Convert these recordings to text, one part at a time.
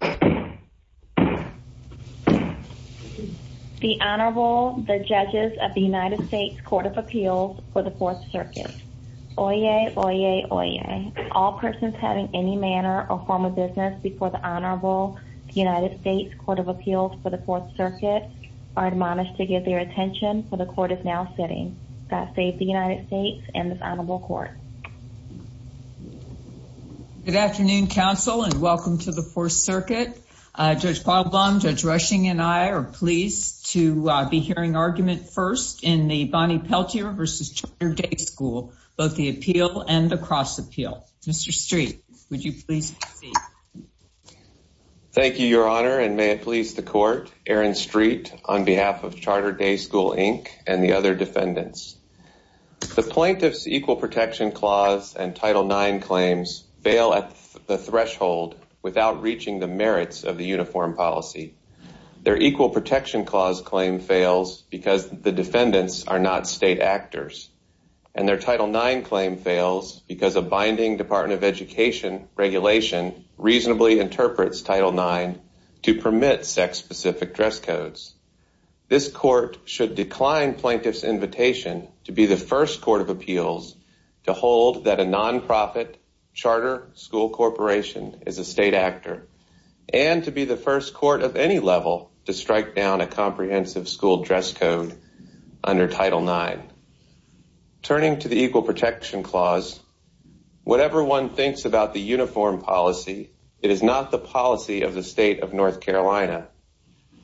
The Honorable, the Judges of the United States Court of Appeals for the Fourth Circuit. Oyez, oyez, oyez. All persons having any manner or form of business before the Honorable United States Court of Appeals for the Fourth Circuit are admonished to give their attention, for the Court is now sitting. God save the United States and this Honorable Court. Good afternoon, Counsel, and welcome to the Fourth Circuit. Judge Paul Blum, Judge Rushing, and I are pleased to be hearing argument first in the Bonnie Peltier v. Charter Day School, both the appeal and the cross appeal. Mr. Street, would you please proceed? Thank you, Your Honor, and may it please the Court. Aaron Street on behalf of Charter Day School, Inc. and the other defendants. The Plaintiff's Equal Protection Clause and Title IX claims fail at the threshold without reaching the merits of the uniform policy. Their Equal Protection Clause claim fails because the defendants are not state actors, and their Title IX claim fails because a binding Department of Education regulation reasonably interprets Title IX to permit sex-specific dress codes. This Court should decline Plaintiff's invitation to be the first Court of Appeals to hold that a nonprofit charter school corporation is a state actor, and to be the first Court of any level to strike down a comprehensive school dress code under Title IX. Turning to the Equal Protection Clause, whatever one thinks about the uniform policy, it is not the policy of the state of North Carolina.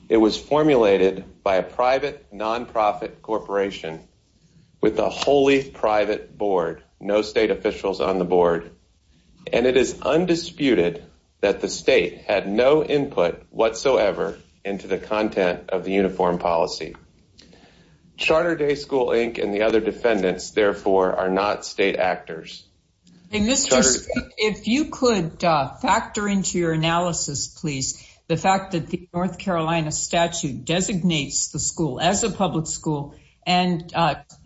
It was formulated by a private nonprofit corporation with a wholly private board, no state officials on the board, and it is undisputed that the state had no input whatsoever into the content of the uniform policy. Charter Day School, Inc. and the other defendants, therefore, are not state actors. Mr. Street, if you could factor into your analysis, please, the fact that the North Carolina statute designates the school as a public school, and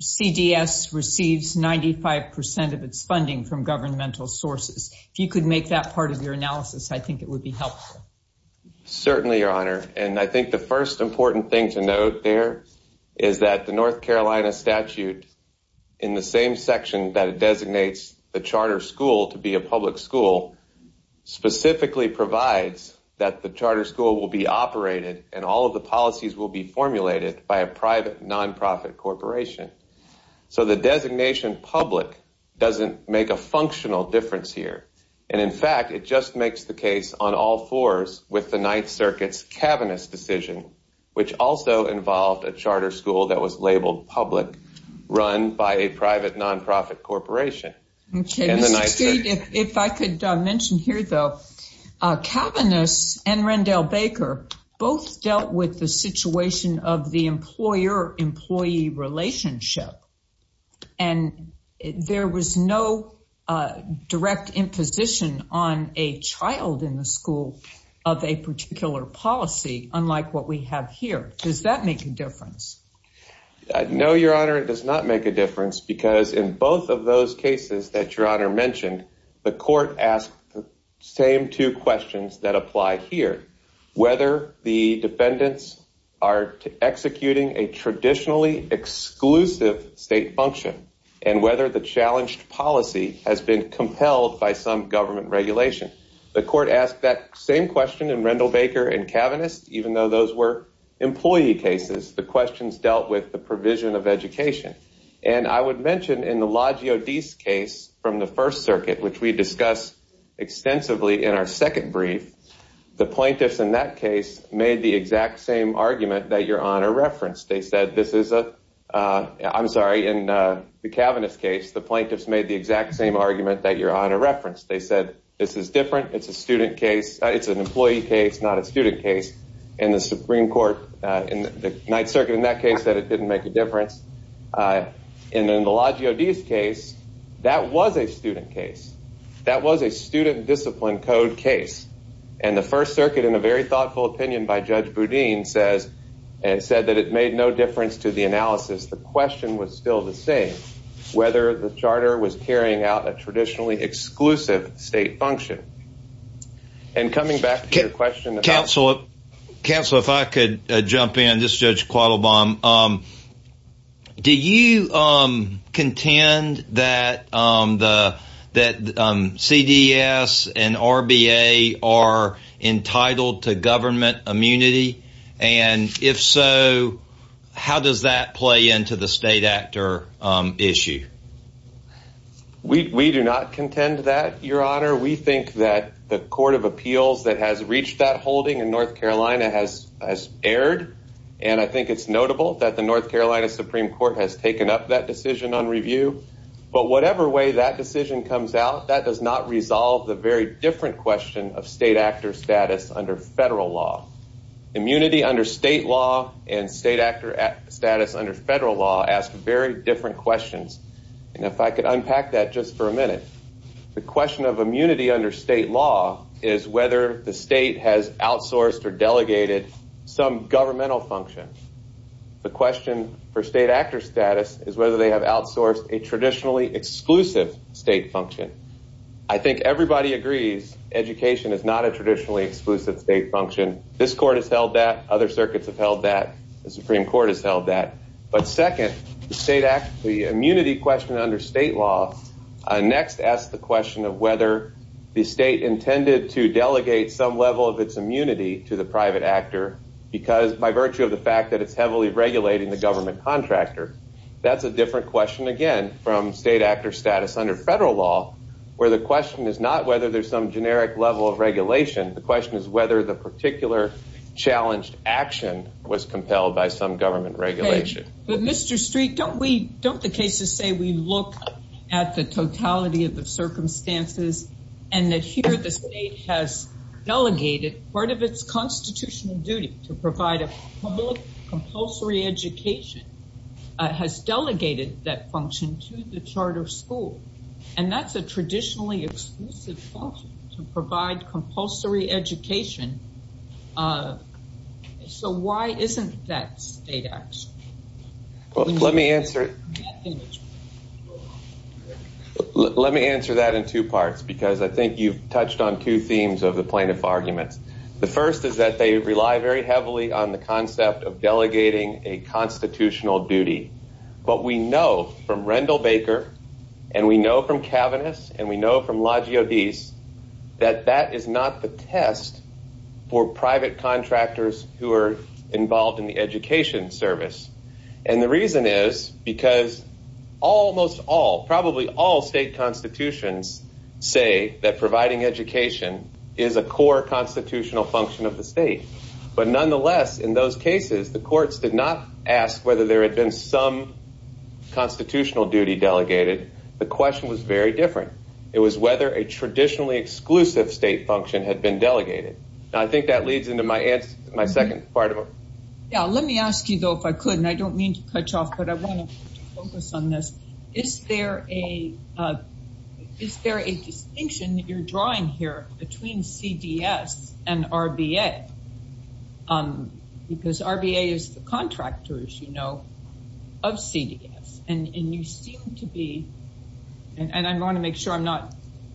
CDS receives 95% of its funding from governmental sources. If you could make that part of your analysis, I think it would be helpful. Certainly, Your Honor, and I think the first important thing to note there is that the North Carolina statute, in the same section that it designates the charter school to be a public school, specifically provides that the charter school will be operated and all of the policies will be formulated by a private nonprofit corporation. So the designation public doesn't make a functional difference here, and in fact, it just makes the case on all fours with the Ninth Circuit's Kavanaugh's decision, which also involved a charter school that was labeled public, run by a private nonprofit corporation. If I could mention here, though, Kavanaugh's and Rendell Baker both dealt with the situation of the employer-employee relationship, and there was no direct imposition on a child in the school of a particular policy, unlike what we have here. Does that make a difference? No, Your Honor, it does not make a difference, because in both of those cases that Your Honor mentioned, the court asked the same two questions that apply here, whether the defendants are executing a traditionally exclusive state function and whether the challenged policy has been compelled by some government regulation. The court asked that same question in Rendell Baker and Kavanaugh's, even though those were employee cases. The questions dealt with the provision of education, and I would mention in the Loggio Di's case from the First Circuit, which we discussed extensively in our second brief, the plaintiffs in that case made the exact same argument that Your Honor referenced. I'm sorry, in the Kavanaugh's case, the plaintiffs made the exact same argument that Your Honor referenced. They said, this is different, it's an employee case, not a student case, and the Supreme Court, the Ninth Circuit in that case said it didn't make a difference. In the Loggio Di's case, that was a student case. That was a student discipline code case, and the First Circuit, in a very thoughtful opinion by Judge Boudin, said that it made no difference to the analysis. The question was still the same, whether the charter was carrying out a traditionally exclusive state function. And coming back to your question about… Counsel, if I could jump in. This is Judge Quattlebaum. Do you contend that CDS and RBA are entitled to government immunity, and if so, how does that play into the state actor issue? We do not contend that, Your Honor. We think that the Court of Appeals that has reached that holding in North Carolina has erred, and I think it's notable that the North Carolina Supreme Court has taken up that decision on review. But whatever way that decision comes out, that does not resolve the very different question of state actor status under federal law. Immunity under state law and state actor status under federal law ask very different questions, and if I could unpack that just for a minute. The question of immunity under state law is whether the state has outsourced or delegated some governmental function. The question for state actor status is whether they have outsourced a traditionally exclusive state function. I think everybody agrees education is not a traditionally exclusive state function. This court has held that. Other circuits have held that. The Supreme Court has held that. But second, the immunity question under state law next asks the question of whether the state intended to delegate some level of its immunity to the private actor by virtue of the fact that it's heavily regulating the government contractor. That's a different question, again, from state actor status under federal law, where the question is not whether there's some generic level of regulation. The question is whether the particular challenged action was compelled by some government regulation. But Mr. Street, don't the cases say we look at the totality of the circumstances and that here the state has delegated part of its constitutional duty to provide a public compulsory education, has delegated that function to the charter school, and that's a traditionally exclusive function to provide compulsory education. So why isn't that state action? Well, let me answer. Let me answer that in two parts, because I think you've touched on two themes of the plaintiff arguments. The first is that they rely very heavily on the concept of delegating a constitutional duty. But we know from Rendell Baker and we know from Kavanagh's and we know from Lodgy obese that that is not the test for private contractors who are involved in the education service. And the reason is because almost all probably all state constitutions say that providing education is a core constitutional function of the state. But nonetheless, in those cases, the courts did not ask whether there had been some constitutional duty delegated. The question was very different. It was whether a traditionally exclusive state function had been delegated. And I think that leads into my second part of it. Yeah. Let me ask you, though, if I could, and I don't mean to cut you off, but I want to focus on this. Is there a distinction that you're drawing here between CDS and RBA? Because RBA is the contractors, you know, of CDS. And you seem to be, and I want to make sure I'm not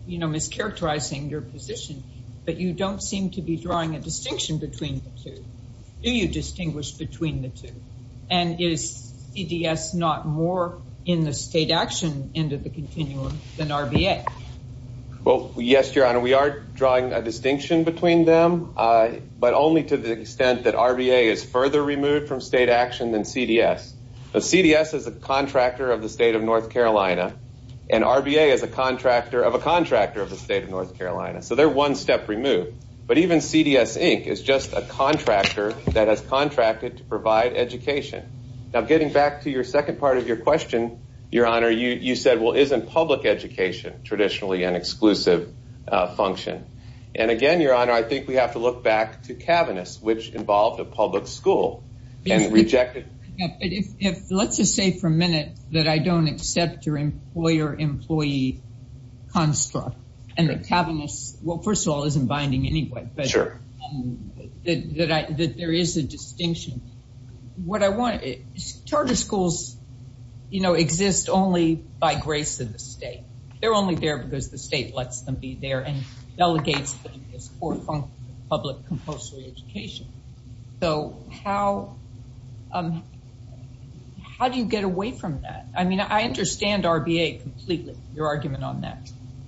mischaracterizing your position, but you don't seem to be drawing a distinction between the two. Do you distinguish between the two? And is CDS not more in the state action end of the continuum than RBA? Well, yes, Your Honor, we are drawing a distinction between them, but only to the extent that RBA is further removed from state action than CDS. CDS is a contractor of the state of North Carolina, and RBA is a contractor of a contractor of the state of North Carolina. So they're one step removed. But even CDS, Inc., is just a contractor that has contracted to provide education. Now, getting back to your second part of your question, Your Honor, you said, well, isn't public education traditionally an exclusive function? And, again, Your Honor, I think we have to look back to cabinets, which involved a public school. Let's just say for a minute that I don't accept your employer-employee construct. And the cabinet, well, first of all, isn't binding anyway. But there is a distinction. What I want – charter schools, you know, exist only by grace of the state. They're only there because the state lets them be there and delegates them as core functions of public compulsory education. So how do you get away from that? I mean, I understand RBA completely, your argument on that.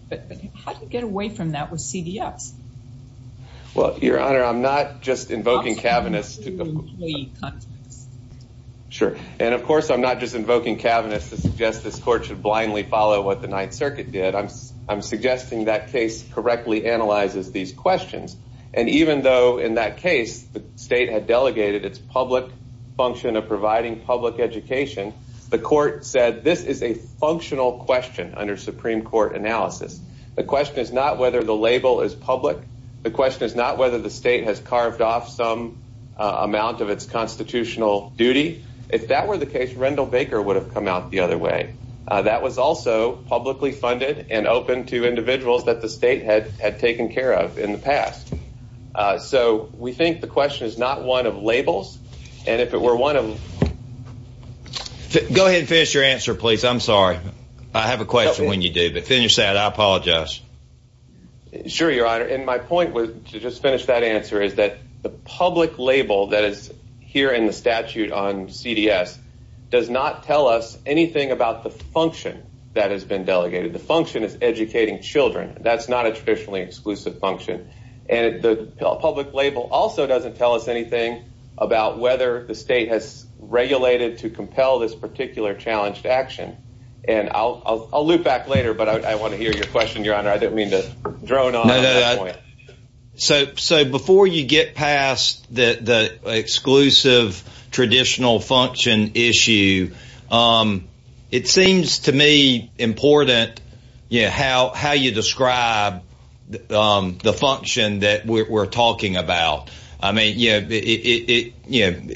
But how do you get away from that with CDS? Well, Your Honor, I'm not just invoking cabinets. I'm talking about employee constructs. Sure. And, of course, I'm not just invoking cabinets to suggest this court should blindly follow what the Ninth Circuit did. I'm suggesting that case correctly analyzes these questions. And even though in that case the state had delegated its public function of providing public education, the court said this is a functional question under Supreme Court analysis. The question is not whether the label is public. The question is not whether the state has carved off some amount of its constitutional duty. If that were the case, Rendell Baker would have come out the other way. That was also publicly funded and open to individuals that the state had taken care of in the past. So we think the question is not one of labels. And if it were one of – Go ahead and finish your answer, please. I'm sorry. I have a question when you do. But finish that. I apologize. Sure, Your Honor. To just finish that answer is that the public label that is here in the statute on CDS does not tell us anything about the function that has been delegated. The function is educating children. That's not a traditionally exclusive function. And the public label also doesn't tell us anything about whether the state has regulated to compel this particular challenge to action. And I'll loop back later, but I want to hear your question, Your Honor. I didn't mean to drone on at this point. So before you get past the exclusive traditional function issue, it seems to me important how you describe the function that we're talking about. I mean,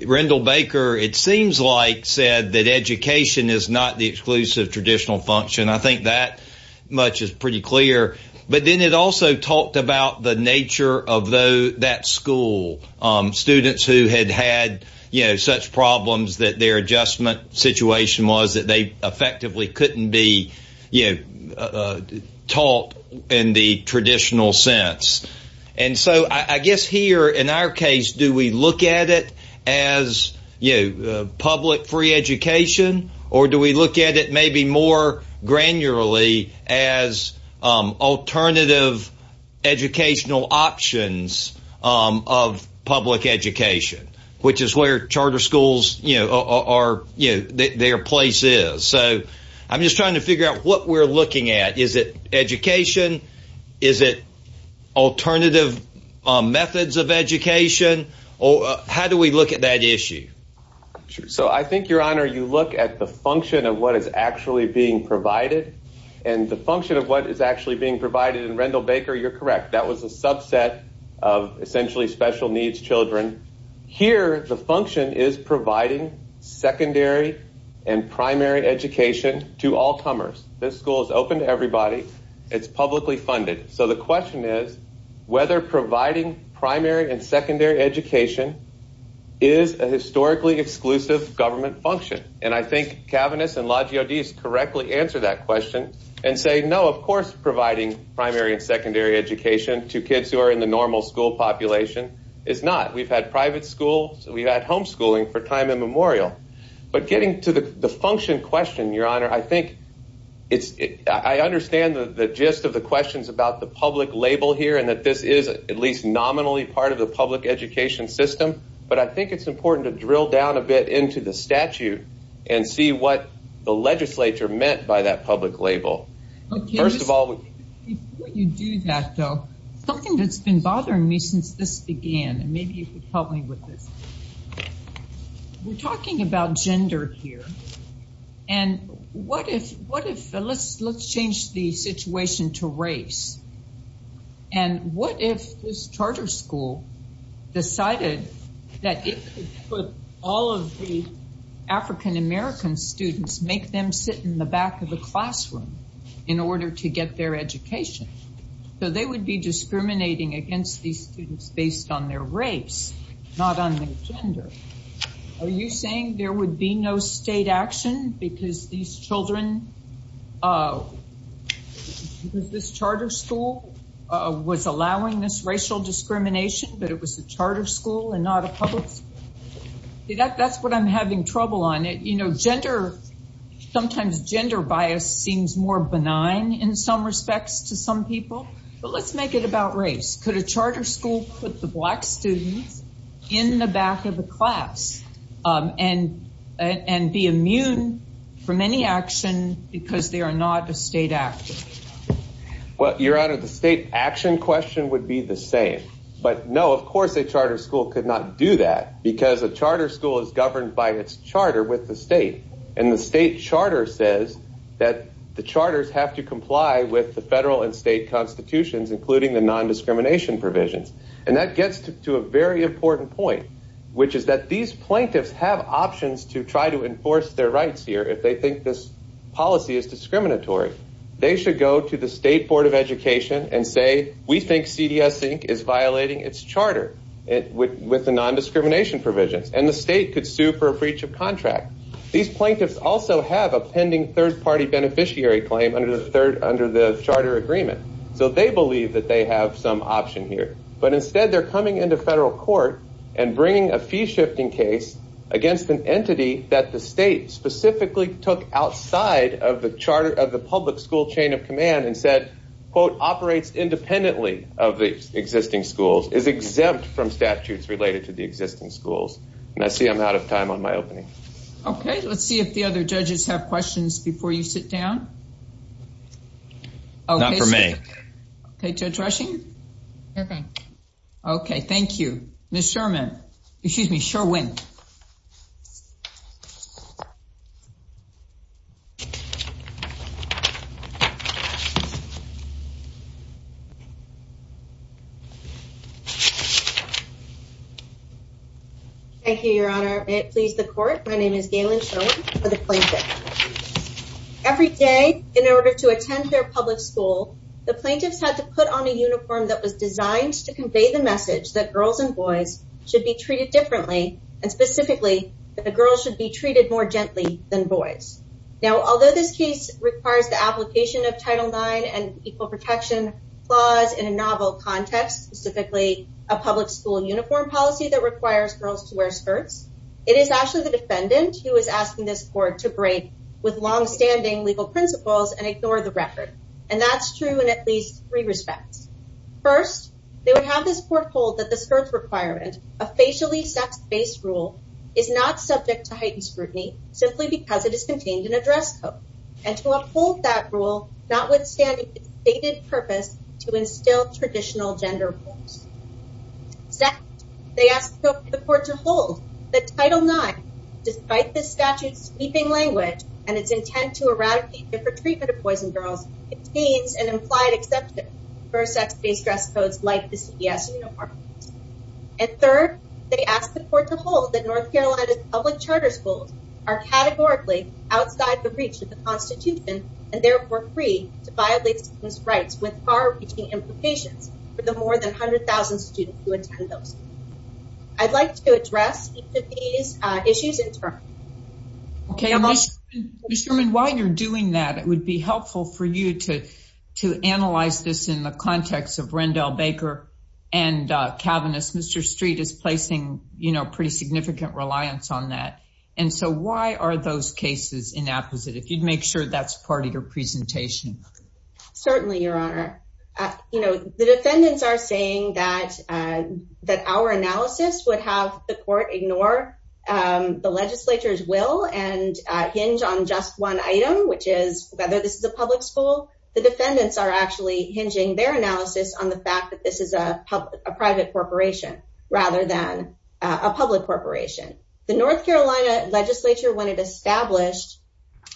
Rendell Baker, it seems like, said that education is not the exclusive traditional function. I think that much is pretty clear. But then it also talked about the nature of that school, students who had had such problems that their adjustment situation was that they effectively couldn't be taught in the traditional sense. And so I guess here in our case, do we look at it as public free education or do we look at it maybe more granularly as alternative educational options of public education, which is where charter schools, you know, are, you know, their place is. So I'm just trying to figure out what we're looking at. Is it education? Is it alternative methods of education? Or how do we look at that issue? So I think, Your Honor, you look at the function of what is actually being provided and the function of what is actually being provided. And Rendell Baker, you're correct. That was a subset of essentially special needs children. Here, the function is providing secondary and primary education to all comers. This school is open to everybody. It's publicly funded. So the question is whether providing primary and secondary education is a historically exclusive government function. And I think Kavanagh and Lajeodies correctly answer that question and say, no, of course, providing primary and secondary education to kids who are in the normal school population is not. We've had private schools. We've had homeschooling for time immemorial. But getting to the function question, Your Honor, I think I understand the gist of the questions about the public label here and that this is at least nominally part of the public education system. But I think it's important to drill down a bit into the statute and see what the legislature meant by that public label. Before you do that, though, something that's been bothering me since this began, and maybe you could help me with this. We're talking about gender here. And what if let's change the situation to race. And what if this charter school decided that it could put all of the African-American students, make them sit in the back of the classroom in order to get their education? So they would be discriminating against these students based on their race, not on their gender. Are you saying there would be no state action because these children, because this charter school was allowing this racial discrimination, but it was a charter school and not a public school? That's what I'm having trouble on. You know, gender, sometimes gender bias seems more benign in some respects to some people. But let's make it about race. Could a charter school put the black students in the back of the class and be immune from any action because they are not a state actor? Well, Your Honor, the state action question would be the same. But, no, of course a charter school could not do that because a charter school is governed by its charter with the state. And the state charter says that the charters have to comply with the federal and state constitutions, including the nondiscrimination provisions. And that gets to a very important point, which is that these plaintiffs have options to try to enforce their rights here if they think this policy is discriminatory. They should go to the State Board of Education and say, we think CDS Inc. is violating its charter with the nondiscrimination provisions. And the state could sue for a breach of contract. These plaintiffs also have a pending third-party beneficiary claim under the charter agreement. So they believe that they have some option here. But instead they're coming into federal court and bringing a fee-shifting case against an entity that the state specifically took outside of the public school chain of command and said, quote, operates independently of the existing schools, is exempt from statutes related to the existing schools. And I see I'm out of time on my opening. Okay. Let's see if the other judges have questions before you sit down. Not for me. Okay. Judge Rushing? Okay. Okay. Thank you. Ms. Sherman. Excuse me. Sherwin. Thank you, Your Honor. May it please the court. My name is Galen Sherman for the plaintiffs. Every day, in order to attend their public school, the plaintiffs had to put on a uniform that was designed to convey the message that girls and boys should be treated differently, and specifically that the girls should be treated more gently than boys. Now, although this case requires the application of Title IX and Equal Protection Clause in a novel context, specifically a public school uniform policy that requires girls to wear skirts, it is actually the defendant who is asking this court to break with longstanding legal principles and ignore the record. And that's true in at least three respects. First, they would have this court hold that the skirts requirement, a facially sex-based rule, is not subject to heightened scrutiny simply because it is contained in a dress code, and to uphold that rule, notwithstanding its stated purpose to instill traditional gender roles. Second, they ask the court to hold that Title IX, despite this statute's sweeping language and its intent to eradicate different treatment of boys and girls, contains an implied exception for sex-based dress codes like the CBS uniform. And third, they ask the court to hold that North Carolina's public charter schools are categorically outside the reach of the Constitution, and therefore free to violate students' rights with far-reaching implications for the more than 100,000 students who attend those schools. I'd like to address each of these issues in turn. Mr. Sherman, while you're doing that, it would be helpful for you to analyze this in the context of Rendell Baker and Calvinist. Mr. Street is placing pretty significant reliance on that. And so why are those cases inapposite, if you'd make sure that's part of your presentation? Certainly, Your Honor. The defendants are saying that our analysis would have the court ignore the legislature's will and hinge on just one item, which is whether this is a public school. The defendants are actually hinging their analysis on the fact that this is a private corporation rather than a public corporation. The North Carolina legislature, when it established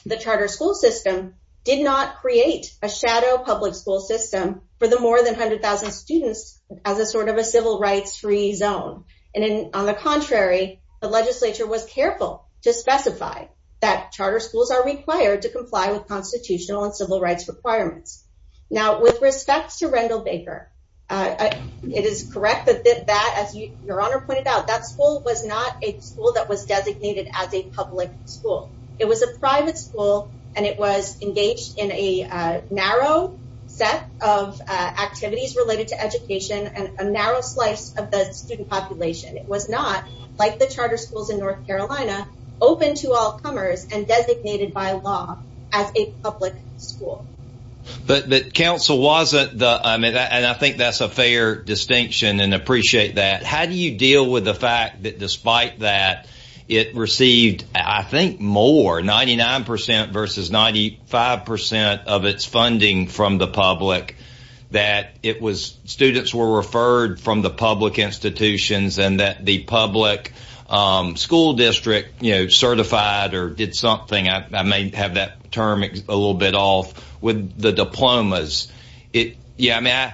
the charter school system, did not create a shadow public school system for the more than 100,000 students as a sort of a civil rights-free zone. And on the contrary, the legislature was careful to specify that charter schools are required to comply with constitutional and civil rights requirements. Now, with respect to Rendell Baker, it is correct that as Your Honor pointed out, that school was not a school that was designated as a public school. It was a private school, and it was engaged in a narrow set of activities related to education and a narrow slice of the student population. It was not, like the charter schools in North Carolina, open to all comers and designated by law as a public school. But counsel, I think that's a fair distinction and appreciate that. How do you deal with the fact that despite that, it received, I think, more, 99% versus 95% of its funding from the public, that students were referred from the public institutions and that the public school district certified or did something? I may have that term a little bit off with the diplomas. Yeah, I mean,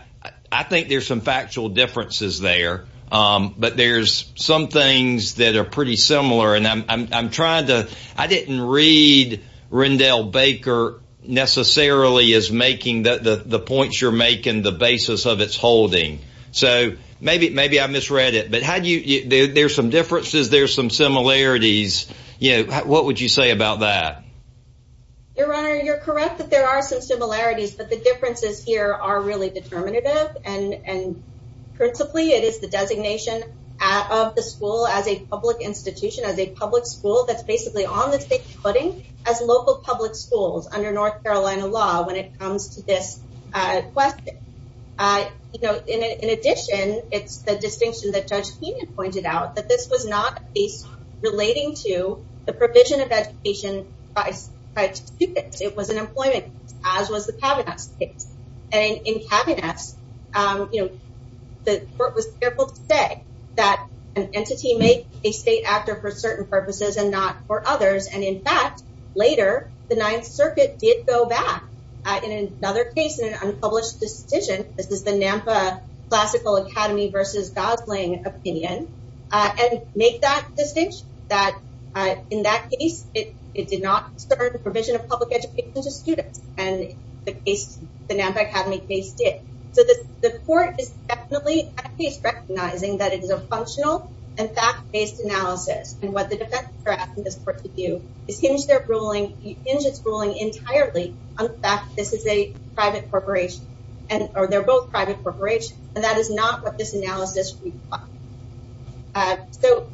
I think there's some factual differences there, but there's some things that are pretty similar. And I'm trying to – I didn't read Rendell Baker necessarily as making the points you're making the basis of its holding. So maybe I misread it, but how do you – there's some differences. There's some similarities. What would you say about that? Your Honor, you're correct that there are some similarities, but the differences here are really determinative. And principally, it is the designation of the school as a public institution, as a public school, that's basically on the state's footing as local public schools under North Carolina law when it comes to this question. In addition, it's the distinction that Judge Keenan pointed out, that this was not a case relating to the provision of education by students. It was an employment case, as was the Kavanaugh case. And in Kavanaugh's, the court was careful to say that an entity may be a state actor for certain purposes and not for others. And in fact, later, the Ninth Circuit did go back in another case in an unpublished decision. This is the NAMPA Classical Academy v. Gosling opinion, and make that distinction, that in that case, it did not concern the provision of public education to students. And the NAMPA Academy case did. So the court is definitely at least recognizing that it is a functional and fact-based analysis, and what the defendants are asking this court to do is hinge its ruling entirely on the fact that this is a private corporation, or they're both private corporations, and that is not what this analysis really is about. So,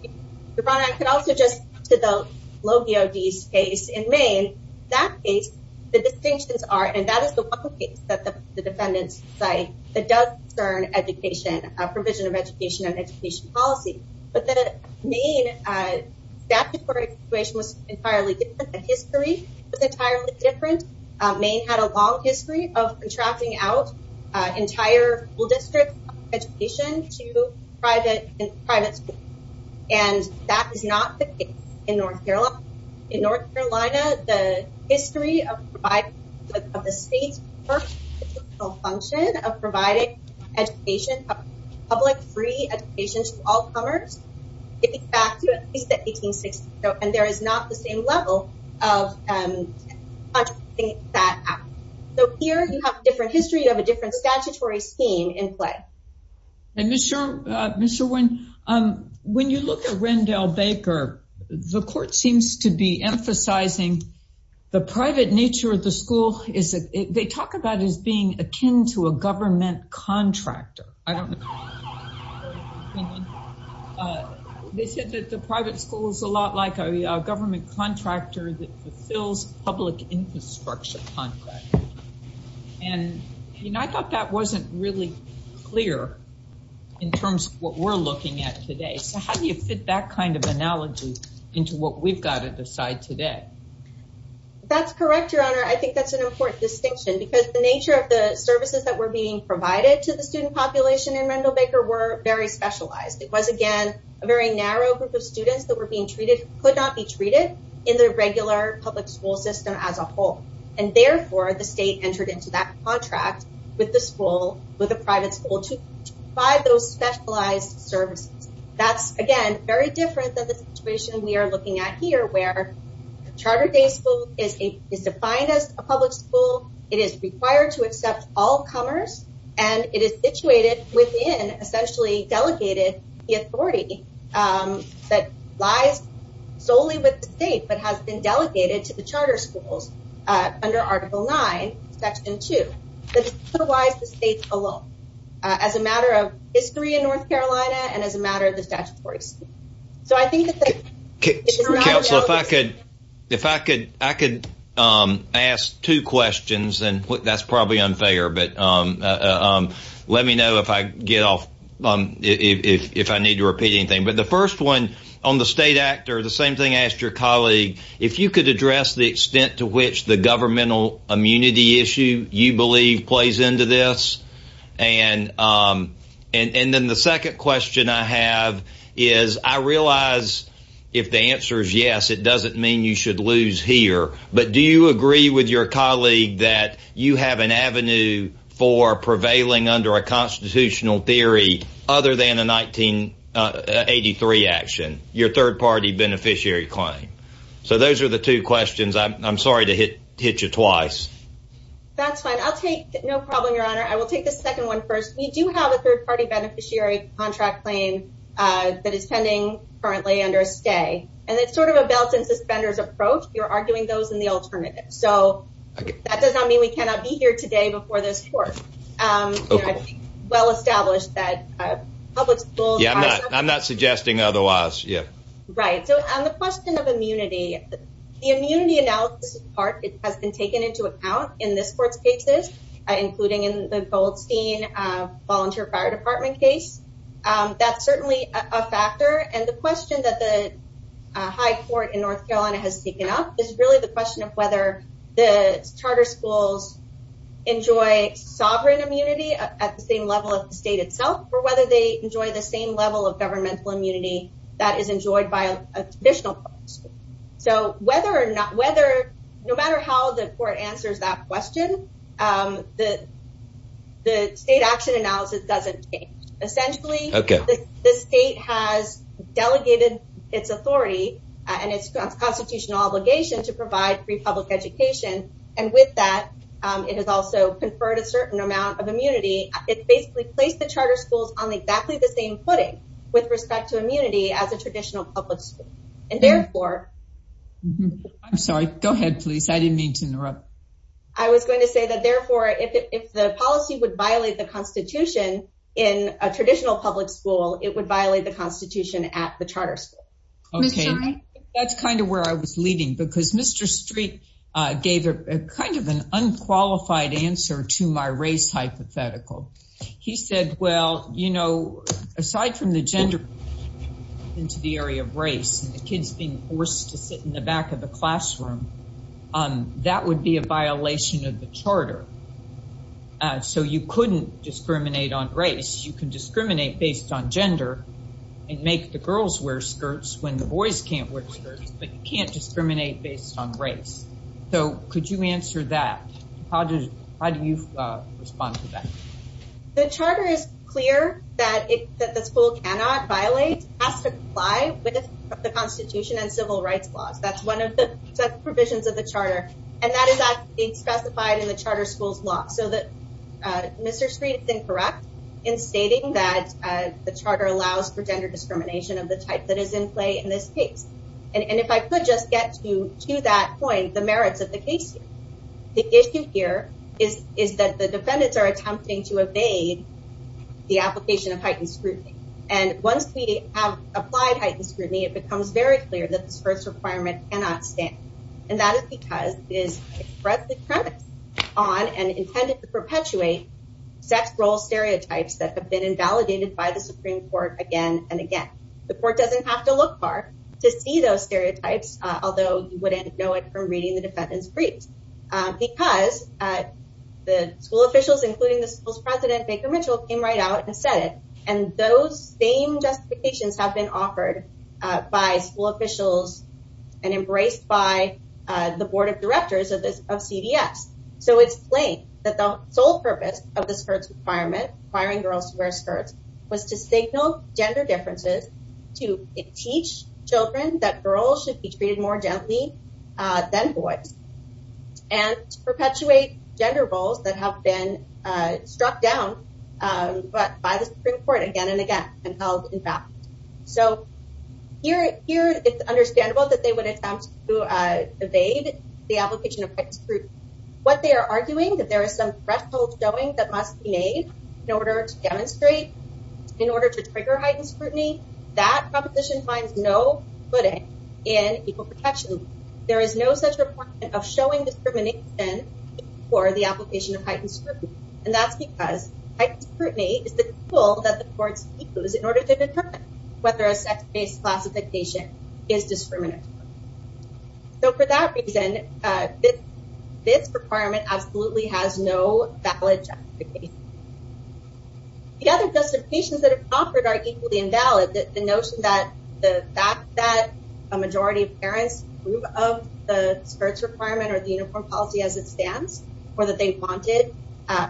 Your Honor, I can also just, to the low DOD's case in Maine, that case, the distinctions are, and that is the one case that the defendants cite that does concern education, provision of education and education policy. But the Maine statute court situation was entirely different. The history was entirely different. Maine had a long history of contracting out entire school districts of education to private schools, and that is not the case in North Carolina. In North Carolina, the history of the state's first functional function of providing education, public free education to all comers, dates back to at least the 1860s, and there is not the same level of contracting that out. So here you have a different history, you have a different statutory scheme in play. And Ms. Sherwin, when you look at Rendell Baker, the court seems to be emphasizing the private nature of the school. They talk about it as being akin to a government contractor. They said that the private school is a lot like a government contractor that fulfills public infrastructure contracts. And I thought that wasn't really clear in terms of what we're looking at today. So how do you fit that kind of analogy into what we've got at the side today? That's correct, Your Honor. I think that's an important distinction because the nature of the services that were being provided to the student population in Rendell Baker were very specialized. It was, again, a very narrow group of students that were being treated, could not be treated in the regular public school system as a whole. And therefore, the state entered into that contract with the school, with the private school, to provide those specialized services. That's, again, very different than the situation we are looking at here, where Charter Day School is defined as a public school. It is required to accept all comers. And it is situated within, essentially delegated, the authority that lies solely with the state but has been delegated to the charter schools under Article 9, Section 2. Otherwise, the state alone, as a matter of history in North Carolina and as a matter of the statutory school. Counsel, if I could ask two questions, and that's probably unfair, but let me know if I need to repeat anything. But the first one, on the state actor, the same thing I asked your colleague, if you could address the extent to which the governmental immunity issue you believe plays into this. And then the second question I have is, I realize if the answer is yes, it doesn't mean you should lose here. But do you agree with your colleague that you have an avenue for prevailing under a constitutional theory other than a 1983 action, your third-party beneficiary claim? So those are the two questions. I'm sorry to hit you twice. That's fine. I'll take – no problem, Your Honor. I will take the second one first. We do have a third-party beneficiary contract claim that is pending currently under a stay. And it's sort of a belt and suspenders approach. You're arguing those in the alternative. So that does not mean we cannot be here today before this court. Well established that public schools – Yeah, I'm not suggesting otherwise. Yeah. Right. So on the question of immunity, the immunity analysis part has been taken into account in this court's cases, including in the Goldstein Volunteer Fire Department case. That's certainly a factor. And the question that the high court in North Carolina has taken up is really the question of whether the charter schools enjoy sovereign immunity at the same level of the state itself, or whether they enjoy the same level of governmental immunity that is enjoyed by a traditional public school. So whether or not – no matter how the court answers that question, the state action analysis doesn't change. Essentially, the state has delegated its authority and its constitutional obligation to provide free public education. And with that, it has also conferred a certain amount of immunity. It basically placed the charter schools on exactly the same footing with respect to immunity as a traditional public school. And therefore – I'm sorry. Go ahead, please. I didn't mean to interrupt. I was going to say that, therefore, if the policy would violate the Constitution in a traditional public school, it would violate the Constitution at the charter school. Okay. Ms. Schein? That's kind of where I was leading, because Mr. Street gave kind of an unqualified answer to my race hypothetical. He said, well, you know, aside from the gender into the area of race and the kids being forced to sit in the back of the classroom, that would be a violation of the charter. So you couldn't discriminate on race. You can discriminate based on gender and make the girls wear skirts when the boys can't wear skirts, but you can't discriminate based on race. So could you answer that? How do you respond to that? The charter is clear that the school cannot violate – has to comply with the Constitution and civil rights laws. That's one of the provisions of the charter, and that is being specified in the charter school's law. So Mr. Street is incorrect in stating that the charter allows for gender discrimination of the type that is in play in this case. And if I could just get to that point, the merits of the case here. The issue here is that the defendants are attempting to evade the application of heightened scrutiny. And once we have applied heightened scrutiny, it becomes very clear that this first requirement cannot stand. And that is because it is expressed on and intended to perpetuate sex role stereotypes that have been invalidated by the Supreme Court again and again. The court doesn't have to look far to see those stereotypes, although you wouldn't know it from reading the defendant's briefs. Because the school officials, including the school's president, Baker Mitchell, came right out and said it. And those same justifications have been offered by school officials and embraced by the board of directors of CVS. So it's plain that the sole purpose of this requirement, requiring girls to wear skirts, was to signal gender differences to teach children that girls should be treated more gently than boys. And perpetuate gender roles that have been struck down by the Supreme Court again and again and held in fact. So, here it's understandable that they would attempt to evade the application of heightened scrutiny. What they are arguing that there is some threshold showing that must be made in order to demonstrate, in order to trigger heightened scrutiny. That proposition finds no footing in equal protection. There is no such requirement of showing discrimination for the application of heightened scrutiny. And that's because heightened scrutiny is the tool that the courts use in order to determine whether a sex-based classification is discriminatory. So for that reason, this requirement absolutely has no valid justification. The other justifications that are offered are equally invalid. The notion that the fact that a majority of parents approve of the skirts requirement or the uniform policy as it stands. Or that they wanted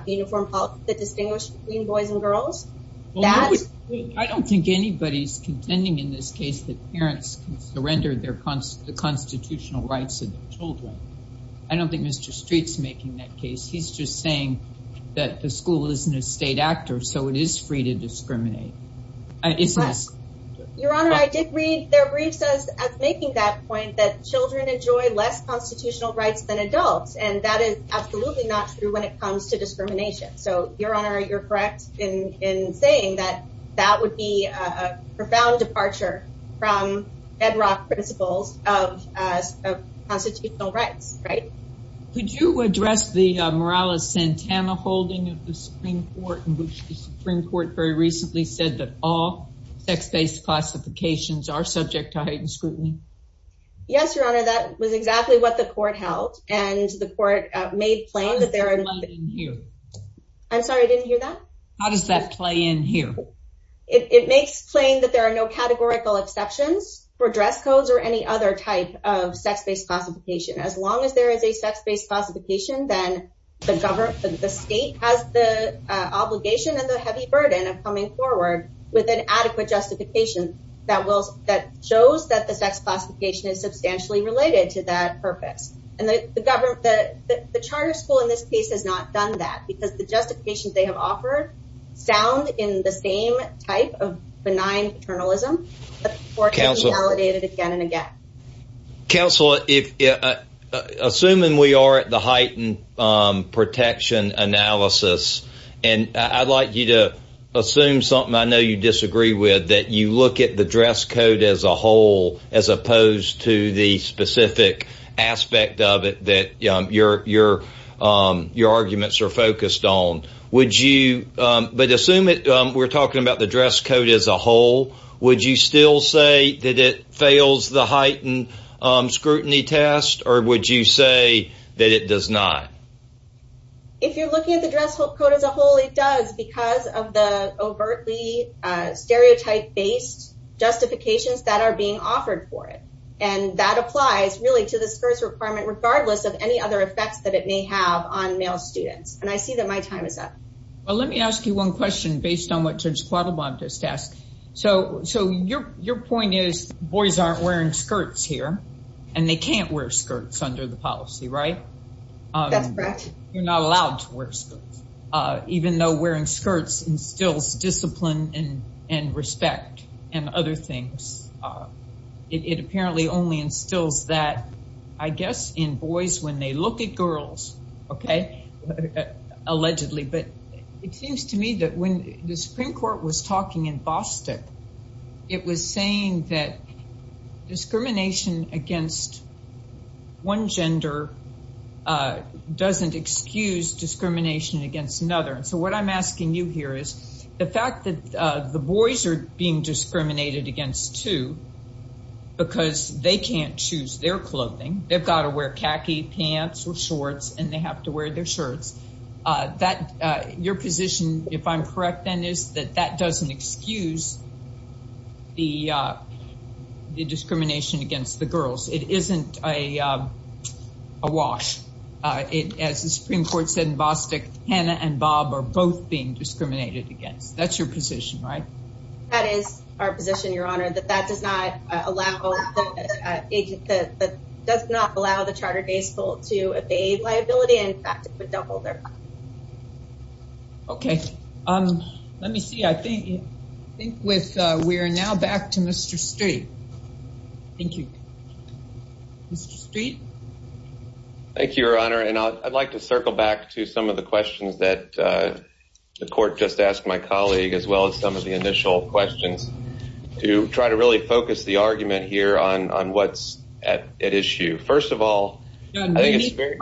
uniform policy that distinguished between boys and girls. I don't think anybody's contending in this case that parents can surrender the constitutional rights of their children. I don't think Mr. Street's making that case. He's just saying that the school isn't a state actor, so it is free to discriminate. Your Honor, I did read their briefs as making that point that children enjoy less constitutional rights than adults. And that is absolutely not true when it comes to discrimination. So, Your Honor, you're correct in saying that that would be a profound departure from bedrock principles of constitutional rights, right? Could you address the Morales-Santana holding of the Supreme Court in which the Supreme Court very recently said that all sex-based classifications are subject to heightened scrutiny? Yes, Your Honor, that was exactly what the court held. And the court made plain that there are... How does that play in here? I'm sorry, I didn't hear that? How does that play in here? It makes plain that there are no categorical exceptions for dress codes or any other type of sex-based classification. As long as there is a sex-based classification, then the state has the obligation and the heavy burden of coming forward with an adequate justification that shows that the sex classification is substantially related to that purpose. And the charter school in this case has not done that because the justifications they have offered sound in the same type of benign paternalism, but the court has re-validated it again and again. Counsel, assuming we are at the heightened protection analysis, and I'd like you to assume something I know you disagree with, that you look at the dress code as a whole as opposed to the specific aspect of it that your arguments are focused on. But assume we're talking about the dress code as a whole, would you still say that it fails the heightened scrutiny test, or would you say that it does not? If you're looking at the dress code as a whole, it does because of the overtly stereotype-based justifications that are being offered for it. And that applies really to the skirts requirement regardless of any other effects that it may have on male students. And I see that my time is up. Well, let me ask you one question based on what Judge Quattlebaum just asked. So your point is boys aren't wearing skirts here, and they can't wear skirts under the policy, right? That's correct. You're not allowed to wear skirts, even though wearing skirts instills discipline and respect and other things. It apparently only instills that, I guess, in boys when they look at girls, okay, allegedly. But it seems to me that when the Supreme Court was talking in Bostock, it was saying that discrimination against one gender doesn't excuse discrimination against another. So what I'm asking you here is the fact that the boys are being discriminated against, too, because they can't choose their clothing. They've got to wear khaki pants or shorts, and they have to wear their shirts. Your position, if I'm correct then, is that that doesn't excuse the discrimination against the girls. It isn't a wash. As the Supreme Court said in Bostock, Hannah and Bob are both being discriminated against. That's your position, right? That is our position, Your Honor, that that does not allow the chartered baseball to evade liability. In fact, it would double their liability. Okay. Let me see. I think we are now back to Mr. Street. Thank you. Mr. Street? Thank you, Your Honor. And I'd like to circle back to some of the questions that the court just asked my colleague as well as some of the initial questions to try to really focus the argument here on what's at issue. First of all, I think it's very…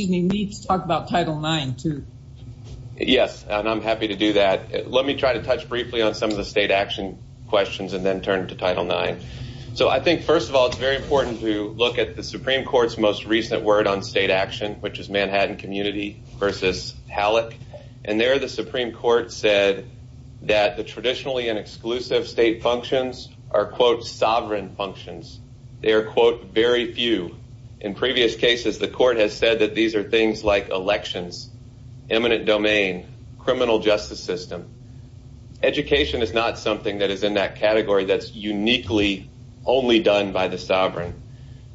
You need to talk about Title IX, too. Yes, and I'm happy to do that. Let me try to touch briefly on some of the state action questions and then turn to Title IX. So I think, first of all, it's very important to look at the Supreme Court's most recent word on state action, which is Manhattan Community v. Halleck. And there the Supreme Court said that the traditionally and exclusive state functions are, quote, sovereign functions. They are, quote, very few. In previous cases, the court has said that these are things like elections, eminent domain, criminal justice system. Education is not something that is in that category that's uniquely only done by the sovereign.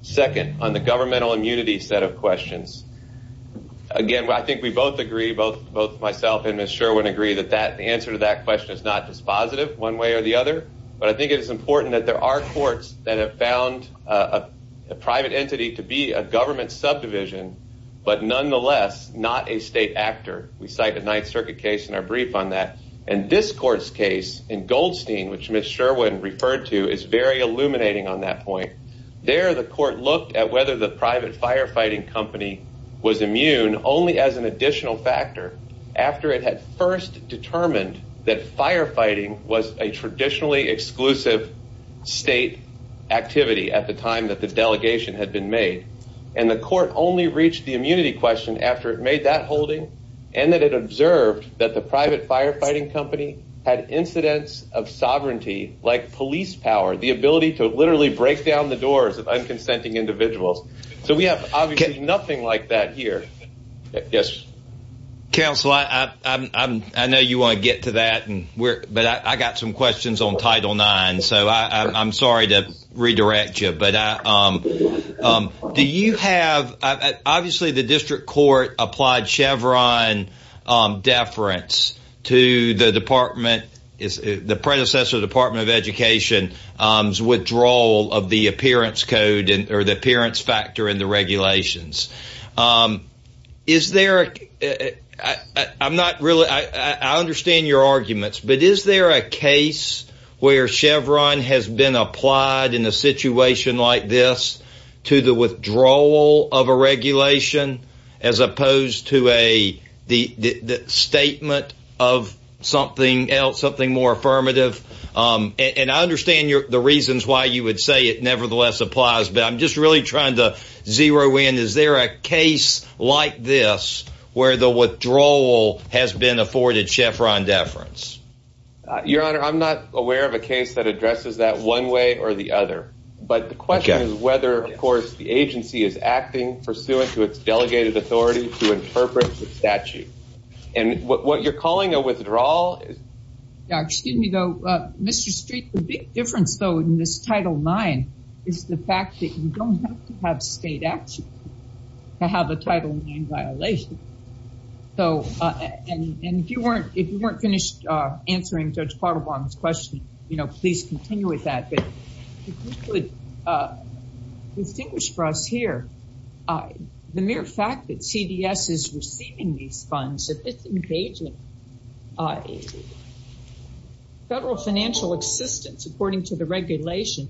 Second, on the governmental immunity set of questions, again, I think we both agree, both myself and Ms. Sherwin agree, that the answer to that question is not just positive one way or the other. But I think it is important that there are courts that have found a private entity to be a government subdivision but nonetheless not a state actor. We cite a Ninth Circuit case in our brief on that. And this court's case in Goldstein, which Ms. Sherwin referred to, is very illuminating on that point. There the court looked at whether the private firefighting company was immune only as an additional factor after it had first determined that firefighting was a traditionally exclusive state activity at the time that the delegation had been made. And the court only reached the immunity question after it made that holding and that it observed that the private firefighting company had incidents of sovereignty, like police power, the ability to literally break down the doors of unconsenting individuals. So we have obviously nothing like that here. Yes. Counsel, I know you want to get to that. But I got some questions on Title IX. So I'm sorry to redirect you. But do you have, obviously the district court applied Chevron deference to the department, the predecessor Department of Education's withdrawal of the appearance code or the appearance factor in the regulations. Is there I'm not really I understand your arguments. But is there a case where Chevron has been applied in a situation like this to the withdrawal of a regulation as opposed to a statement of something else, something more affirmative? And I understand the reasons why you would say it nevertheless applies. But I'm just really trying to zero in. Is there a case like this where the withdrawal has been afforded Chevron deference? Your Honor, I'm not aware of a case that addresses that one way or the other. But the question is whether, of course, the agency is acting pursuant to its delegated authority to interpret the statute. And what you're calling a withdrawal. Excuse me, though, Mr. Street. The big difference, though, in this Title IX is the fact that you don't have to have state action to have a Title IX violation. So if you weren't finished answering Judge Quattlebaum's question, you know, please continue with that. Distinguished for us here, the mere fact that CDS is receiving these funds, if it's engaging. Federal financial assistance, according to the regulations,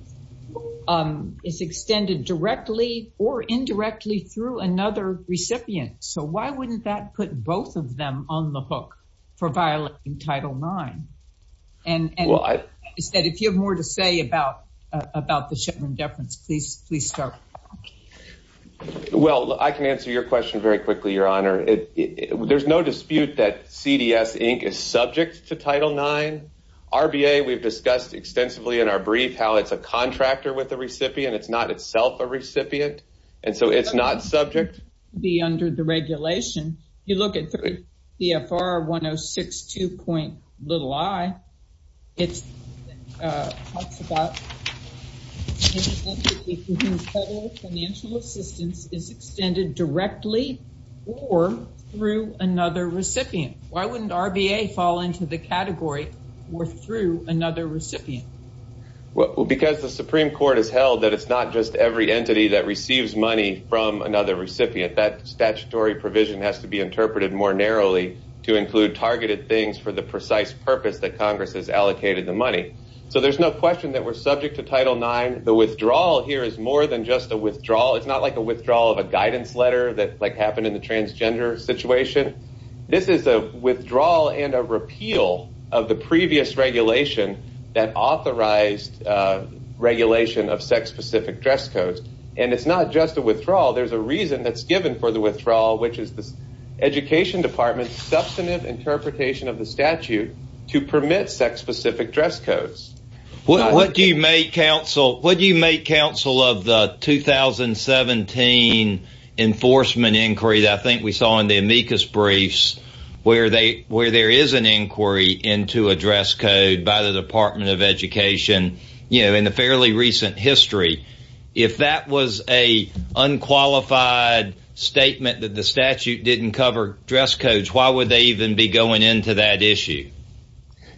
is extended directly or indirectly through another recipient. So why wouldn't that put both of them on the hook for violating Title IX? If you have more to say about the Chevron deference, please start. Well, I can answer your question very quickly, Your Honor. There's no dispute that CDS, Inc. is subject to Title IX. RBA, we've discussed extensively in our brief how it's a contractor with a recipient. It's not itself a recipient. And so it's not subject. Under the regulation, you look at 3 CFR 1062.i, it talks about an entity whose federal financial assistance is extended directly or through another recipient. Why wouldn't RBA fall into the category or through another recipient? Because the Supreme Court has held that it's not just every entity that receives money from another recipient. That statutory provision has to be interpreted more narrowly to include targeted things for the precise purpose that Congress has allocated the money. So there's no question that we're subject to Title IX. The withdrawal here is more than just a withdrawal. It's not like a withdrawal of a guidance letter that, like, happened in the transgender situation. This is a withdrawal and a repeal of the previous regulation that authorized regulation of sex-specific dress codes. And it's not just a withdrawal. There's a reason that's given for the withdrawal, which is the Education Department's substantive interpretation of the statute to permit sex-specific dress codes. What do you make, counsel, of the 2017 enforcement inquiry that I think we saw in the amicus briefs where there is an inquiry into a dress code by the Department of Education, you know, in the fairly recent history? If that was an unqualified statement that the statute didn't cover dress codes, why would they even be going into that issue?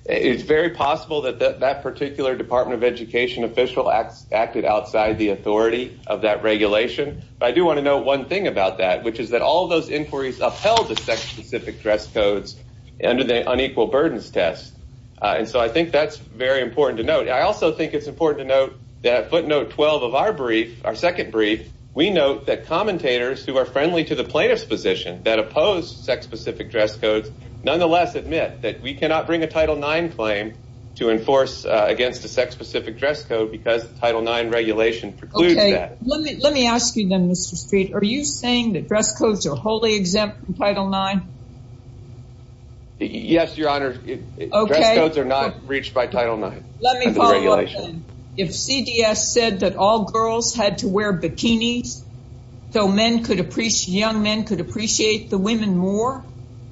It's very possible that that particular Department of Education official acted outside the authority of that regulation. But I do want to note one thing about that, which is that all of those inquiries upheld the sex-specific dress codes under the unequal burdens test. And so I think that's very important to note. I also think it's important to note that footnote 12 of our brief, our second brief, we note that commentators who are friendly to the plaintiff's position that oppose sex-specific dress codes nonetheless admit that we cannot bring a Title IX claim to enforce against a sex-specific dress code because the Title IX regulation precludes that. Okay. Let me ask you then, Mr. Street. Are you saying that dress codes are wholly exempt from Title IX? Yes, Your Honor. Okay. Dress codes are not reached by Title IX. Let me follow up then. If CDS said that all girls had to wear bikinis so young men could appreciate the women more,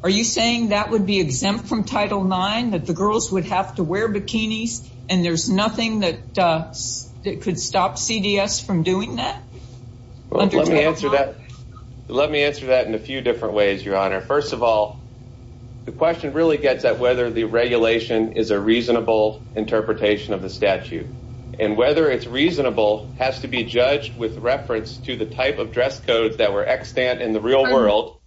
are you saying that would be exempt from Title IX, that the girls would have to wear bikinis and there's nothing that could stop CDS from doing that under Title IX? Let me answer that in a few different ways, Your Honor. First of all, the question really gets at whether the regulation is a reasonable interpretation of the statute. And whether it's reasonable has to be judged with reference to the type of dress codes that were extant in the real world.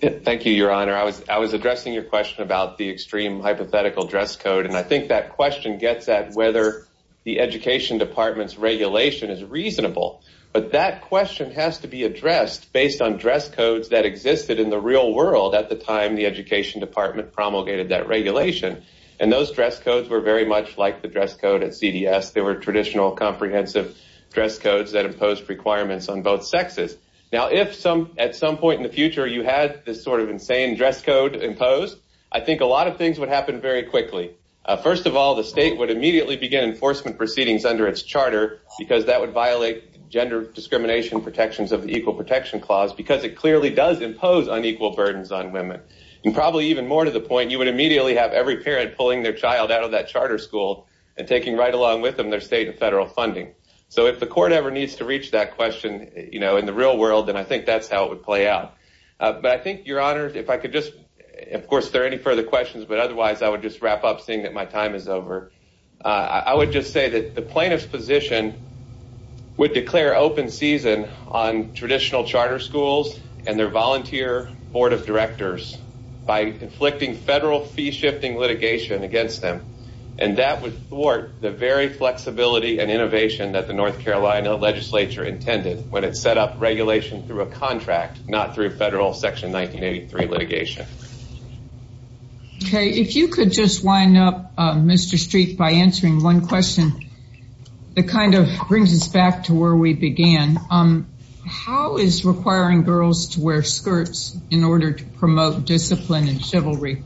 Thank you, Your Honor. I was addressing your question about the extreme hypothetical dress code, and I think that question gets at whether the Education Department's regulation is reasonable. But that question has to be addressed based on dress codes that existed in the real world at the time the Education Department promulgated that regulation. And those dress codes were very much like the dress code at CDS. They were traditional comprehensive dress codes that imposed requirements on both sexes. Now, if at some point in the future you had this sort of insane dress code imposed, I think a lot of things would happen very quickly. First of all, the state would immediately begin enforcement proceedings under its charter because that would violate gender discrimination protections of the Equal Protection Clause because it clearly does impose unequal burdens on women. And probably even more to the point, you would immediately have every parent pulling their child out of that charter school and taking right along with them their state and federal funding. So if the court ever needs to reach that question in the real world, then I think that's how it would play out. But I think, Your Honor, if I could just – of course, if there are any further questions, but otherwise I would just wrap up seeing that my time is over. I would just say that the plaintiff's position would declare open season on traditional charter schools and their volunteer board of directors by inflicting federal fee-shifting litigation against them. And that would thwart the very flexibility and innovation that the North Carolina legislature intended when it set up regulation through a contract, not through federal Section 1983 litigation. Okay. If you could just wind up, Mr. Streep, by answering one question that kind of brings us back to where we began. How is requiring girls to wear skirts in order to promote discipline and chivalry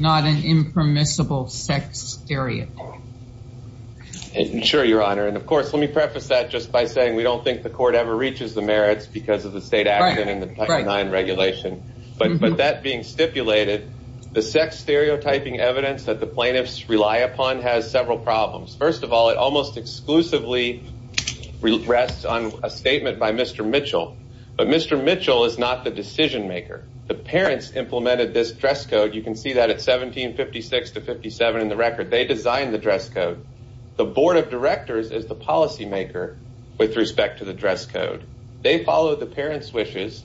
not an impermissible sex stereotype? Sure, Your Honor. And, of course, let me preface that just by saying we don't think the court ever reaches the merits because of the state action and the Title IX regulation. But that being stipulated, the sex stereotyping evidence that the plaintiffs rely upon has several problems. First of all, it almost exclusively rests on a statement by Mr. Mitchell. But Mr. Mitchell is not the decision-maker. The parents implemented this dress code. You can see that at 1756 to 1757 in the record. They designed the dress code. The board of directors is the policymaker with respect to the dress code. They followed the parents' wishes,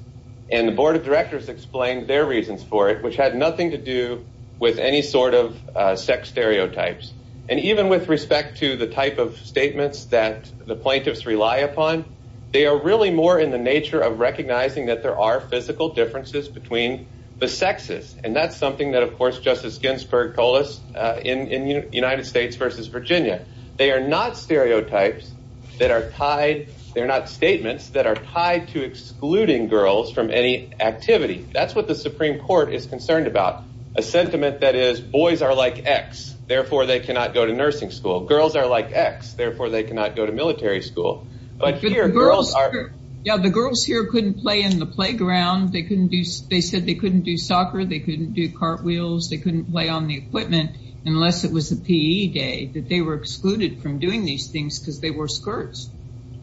and the board of directors explained their reasons for it, which had nothing to do with any sort of sex stereotypes. And even with respect to the type of statements that the plaintiffs rely upon, they are really more in the nature of recognizing that there are physical differences between the sexes. And that's something that, of course, Justice Ginsburg told us in United States v. Virginia. They are not stereotypes that are tied—they're not statements that are tied to excluding girls from any activity. That's what the Supreme Court is concerned about, a sentiment that is, boys are like X. Therefore, they cannot go to nursing school. Girls are like X. Therefore, they cannot go to military school. But here, girls are— Yeah, the girls here couldn't play in the playground. They couldn't do—they said they couldn't do soccer. They couldn't do cartwheels. They couldn't play on the equipment unless it was a PE day, that they were excluded from doing these things because they wore skirts.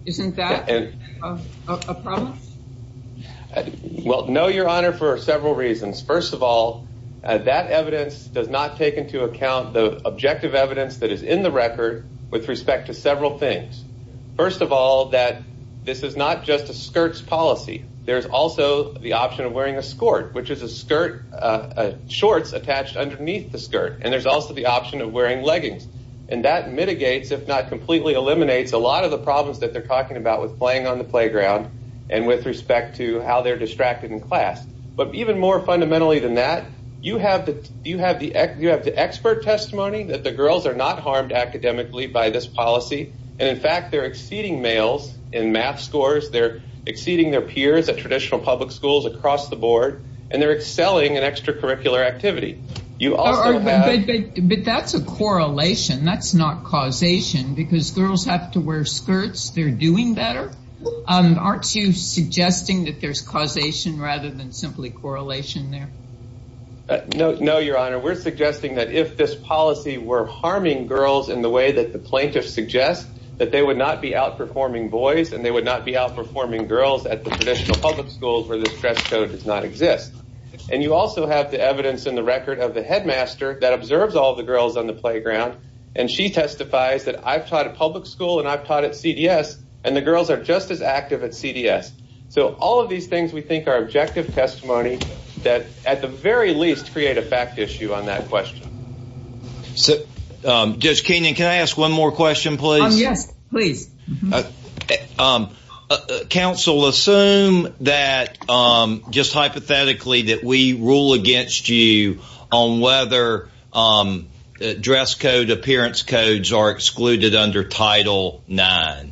Isn't that a problem? Well, no, Your Honor, for several reasons. First of all, that evidence does not take into account the objective evidence that is in the record with respect to several things. First of all, that this is not just a skirts policy. There's also the option of wearing a skort, which is a skirt, shorts attached underneath the skirt. And there's also the option of wearing leggings. And that mitigates, if not completely eliminates, a lot of the problems that they're talking about with playing on the playground and with respect to how they're distracted in class. But even more fundamentally than that, you have the expert testimony that the girls are not harmed academically by this policy. And, in fact, they're exceeding males in math scores. They're exceeding their peers at traditional public schools across the board. And they're excelling in extracurricular activity. You also have— But that's a correlation. That's not causation because girls have to wear skirts. They're doing better. Aren't you suggesting that there's causation rather than simply correlation there? No, Your Honor. We're suggesting that if this policy were harming girls in the way that the plaintiffs suggest, that they would not be outperforming boys and they would not be outperforming girls at the traditional public schools where this dress code does not exist. And you also have the evidence in the record of the headmaster that observes all the girls on the playground. And she testifies that I've taught at public school and I've taught at CDS, and the girls are just as active at CDS. So all of these things we think are objective testimony that, at the very least, create a fact issue on that question. Judge Keenan, can I ask one more question, please? Yes, please. Counsel, assume that, just hypothetically, that we rule against you on whether dress code, appearance codes are excluded under Title IX.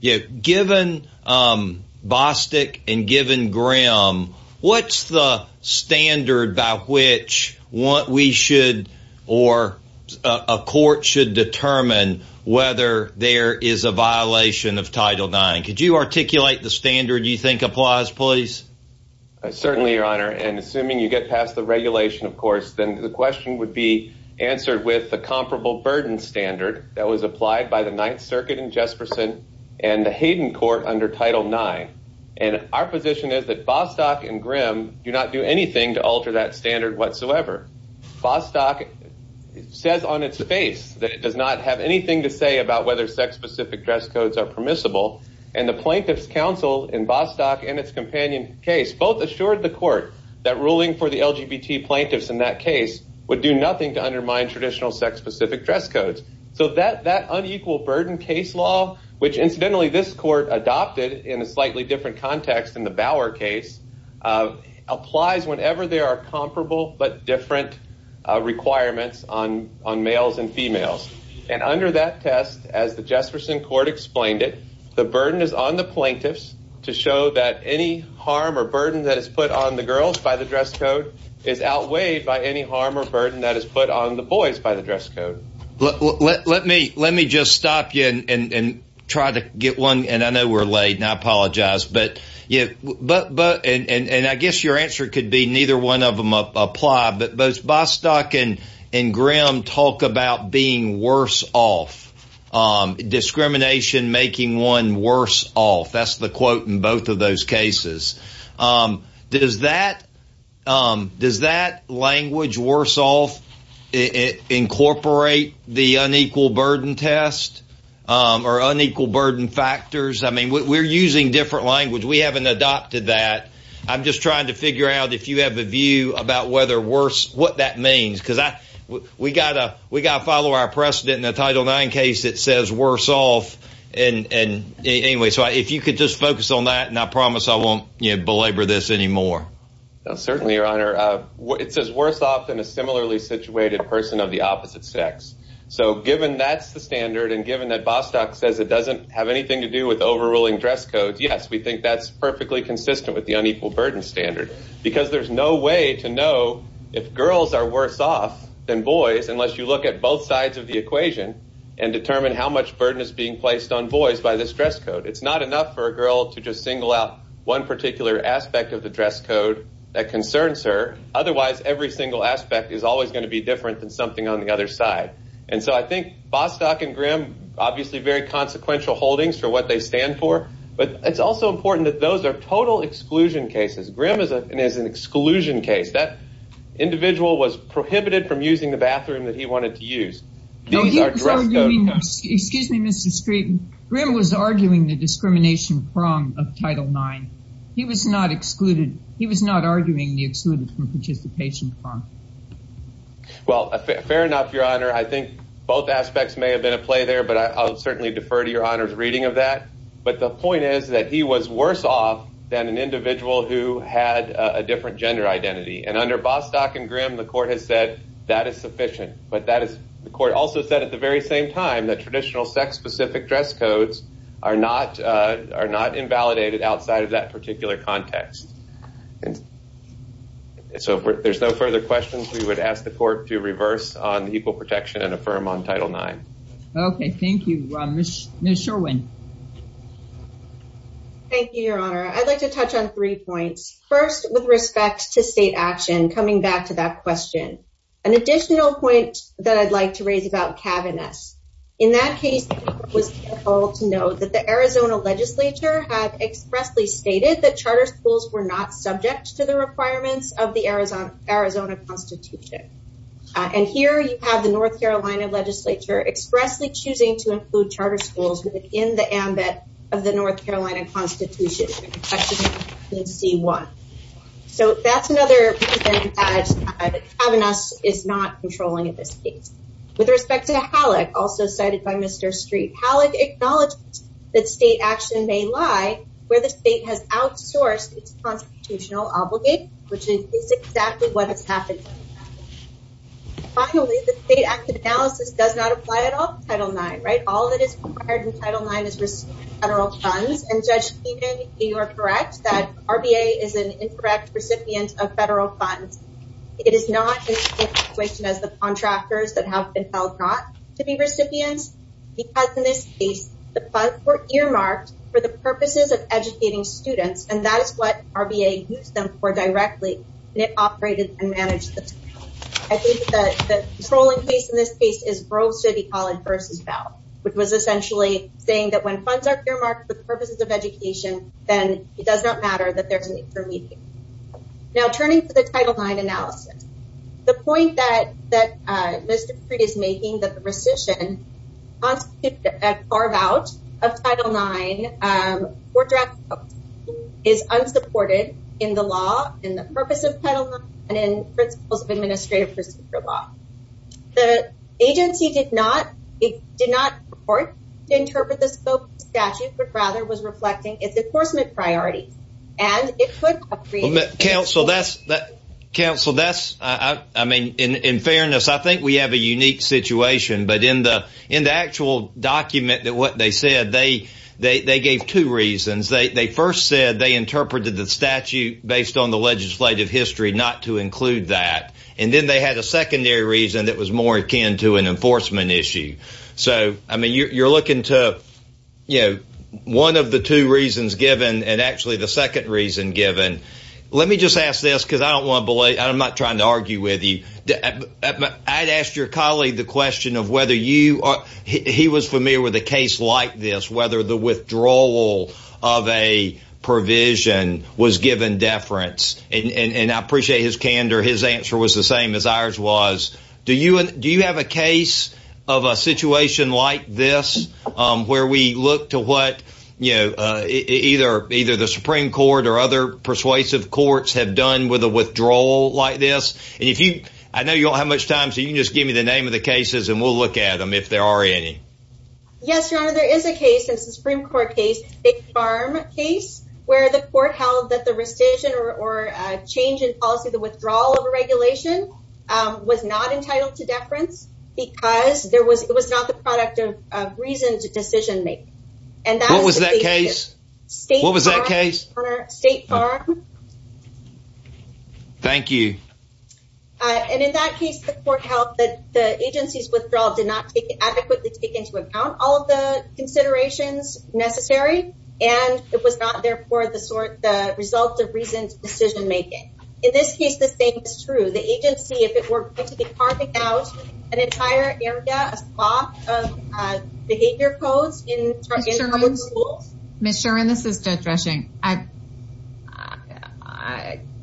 Given Bostic and given Grimm, what's the standard by which we should or a court should determine whether there is a violation of Title IX? Could you articulate the standard you think applies, please? Certainly, Your Honor. And assuming you get past the regulation, of course, then the question would be answered with the comparable burden standard that was applied by the Ninth Circuit in Jesperson and the Hayden Court under Title IX. And our position is that Bostic and Grimm do not do anything to alter that standard whatsoever. Bostic says on its face that it does not have anything to say about whether sex-specific dress codes are permissible. And the Plaintiffs' Counsel in Bostic and its companion case both assured the court that ruling for the LGBT plaintiffs in that case would do nothing to undermine traditional sex-specific dress codes. So that unequal burden case law, which, incidentally, this court adopted in a slightly different context than the Bower case, applies whenever there are comparable but different requirements on males and females. And under that test, as the Jesperson court explained it, the burden is on the plaintiffs to show that any harm or burden that is put on the girls by the dress code is outweighed by any harm or burden that is put on the boys by the dress code. Let me just stop you and try to get one. And I know we're late, and I apologize. And I guess your answer could be neither one of them apply. But both Bostic and Grimm talk about being worse off, discrimination making one worse off. That's the quote in both of those cases. Does that language, worse off, incorporate the unequal burden test or unequal burden factors? I mean, we're using different language. We haven't adopted that. I'm just trying to figure out if you have a view about whether worse, what that means. Because we've got to follow our precedent in the Title IX case that says worse off. And anyway, so if you could just focus on that, and I promise I won't belabor this anymore. Certainly, Your Honor. It says worse off than a similarly situated person of the opposite sex. So given that's the standard and given that Bostic says it doesn't have anything to do with overruling dress codes, yes, we think that's perfectly consistent with the unequal burden standard. Because there's no way to know if girls are worse off than boys unless you look at both sides of the equation and determine how much burden is being placed on boys by this dress code. It's not enough for a girl to just single out one particular aspect of the dress code that concerns her. Otherwise, every single aspect is always going to be different than something on the other side. And so I think Bostic and Grimm, obviously, very consequential holdings for what they stand for. But it's also important that those are total exclusion cases. Grimm is an exclusion case. That individual was prohibited from using the bathroom that he wanted to use. These are dress codes. Excuse me, Mr. Street. Grimm was arguing the discrimination prong of Title IX. He was not arguing the exclusion from participation prong. Well, fair enough, Your Honor. I think both aspects may have been at play there, but I'll certainly defer to Your Honor's reading of that. But the point is that he was worse off than an individual who had a different gender identity. And under Bostic and Grimm, the court has said that is sufficient. But the court also said at the very same time that traditional sex-specific dress codes are not invalidated outside of that particular context. So if there's no further questions, we would ask the court to reverse on equal protection and affirm on Title IX. Okay, thank you. Ms. Sherwin. Thank you, Your Honor. I'd like to touch on three points. First, with respect to state action, coming back to that question. An additional point that I'd like to raise about cabinets. In that case, it was helpful to note that the Arizona Legislature had expressly stated that charter schools were not subject to the requirements of the Arizona Constitution. And here you have the North Carolina Legislature expressly choosing to include charter schools within the ambit of the North Carolina Constitution. So that's another presentation that cabinets is not controlling in this case. With respect to Halleck, also cited by Mr. Street, Halleck acknowledged that state action may lie where the state has outsourced its constitutional obligate, which is exactly what has happened. Finally, the State Act of Analysis does not apply at all to Title IX, right? All that is required in Title IX is federal funds. And Judge Keenan, you are correct that RBA is an incorrect recipient of federal funds. It is not in the same situation as the contractors that have been held not to be recipients. Because in this case, the funds were earmarked for the purposes of educating students. And that is what RBA used them for directly. And it operated and managed them. I think that the controlling case in this case is Grove City College versus Bell, which was essentially saying that when funds are earmarked for the purposes of education, then it does not matter that there's an intermediate. Now turning to the Title IX analysis. The point that Mr. Street is making that the rescission constitute a carve out of Title IX is unsupported in the law, in the purpose of Title IX, and in principles of administrative procedure law. The agency did not report to interpret the statute, but rather was reflecting its enforcement priorities. Counsel, in fairness, I think we have a unique situation. But in the actual document, what they said, they gave two reasons. They first said they interpreted the statute based on the legislative history not to include that. And then they had a secondary reason that was more akin to an enforcement issue. So, I mean, you're looking to, you know, one of the two reasons given, and actually the second reason given. Let me just ask this, because I don't want to believe, I'm not trying to argue with you. I'd asked your colleague the question of whether you, he was familiar with a case like this, whether the withdrawal of a provision was given deference. And I appreciate his candor. His answer was the same as ours was. Do you have a case of a situation like this where we look to what, you know, either the Supreme Court or other persuasive courts have done with a withdrawal like this? And if you, I know you don't have much time, so you can just give me the name of the cases and we'll look at them if there are any. Yes, your honor, there is a case, a Supreme Court case, a farm case, where the court held that the rescission or change in policy, the withdrawal of a regulation was not entitled to deference because there was, it was not the product of reason to decision make. And that was that case. State, what was that case? State farm. Thank you. And in that case, the court held that the agency's withdrawal did not adequately take into account all of the considerations necessary. And it was not, therefore, the sort, the result of reasoned decision making. In this case, the same is true. The agency, if it were going to be carving out an entire area, a swath of behavior codes in public schools. Ms. Sherman, this is Judge Rushing.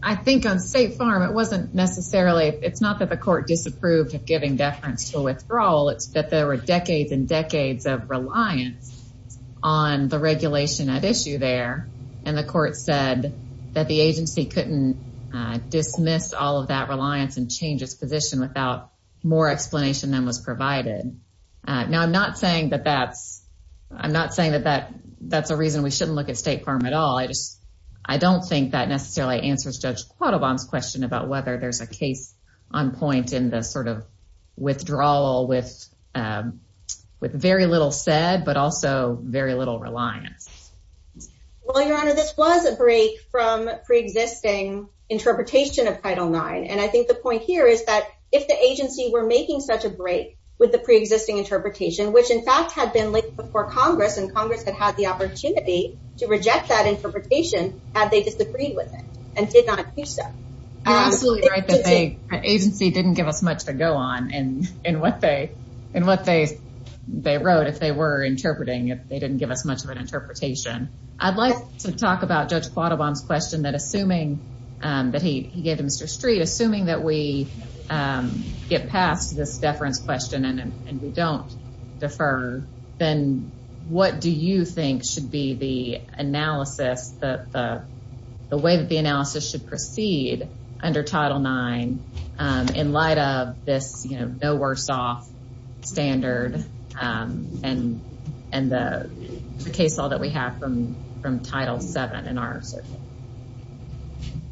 I think on State Farm, it wasn't necessarily, it's not that the court disapproved of giving deference to a withdrawal. It's that there were decades and decades of reliance on the regulation at issue there. And the court said that the agency couldn't dismiss all of that reliance and change its position without more explanation than was provided. Now, I'm not saying that that's, I'm not saying that that's a reason we shouldn't look at State Farm at all. I just, I don't think that necessarily answers Judge Quattlebaum's question about whether there's a case on point in the sort of withdrawal with very little said, but also very little reliance. Well, Your Honor, this was a break from preexisting interpretation of Title IX. And I think the point here is that if the agency were making such a break with the preexisting interpretation, which in fact had been laid before Congress and Congress had had the opportunity to reject that interpretation, had they disagreed with it and did not do so. You're absolutely right that the agency didn't give us much to go on in what they wrote if they were interpreting, if they didn't give us much of an interpretation. I'd like to talk about Judge Quattlebaum's question that assuming that he gave to Mr. Street, assuming that we get past this deference question and we don't defer, then what do you think should be the analysis, the way that the analysis should proceed under Title IX in light of this, you know, no worse off standard and the case law that we have from Title VII in our circuit?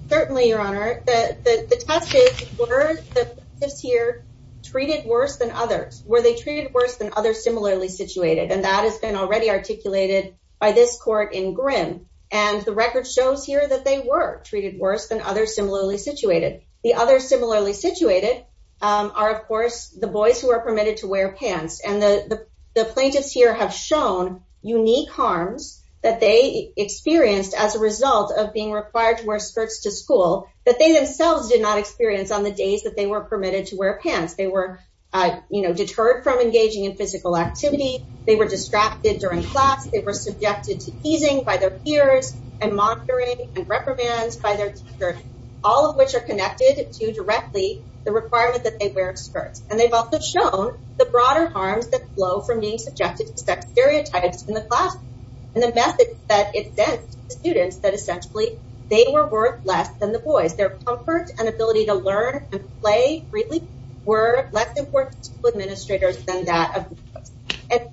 Certainly, Your Honor, the test is were the plaintiffs here treated worse than others? Were they treated worse than others similarly situated? And that has been already articulated by this court in Grimm. And the record shows here that they were treated worse than others similarly situated. The other similarly situated are, of course, the boys who are permitted to wear pants. And the plaintiffs here have shown unique harms that they experienced as a result of being required to wear skirts to school that they themselves did not experience on the days that they were permitted to wear pants. They were, you know, deterred from engaging in physical activity. They were distracted during class. They were subjected to teasing by their peers and monitoring and reprimands by their teacher, all of which are connected to directly the requirement that they wear skirts. And they've also shown the broader harms that flow from being subjected to sex stereotypes in the classroom and the methods that it sends to students that essentially they were worth less than the boys. Their comfort and ability to learn and play freely were less important to administrators than that of the boys.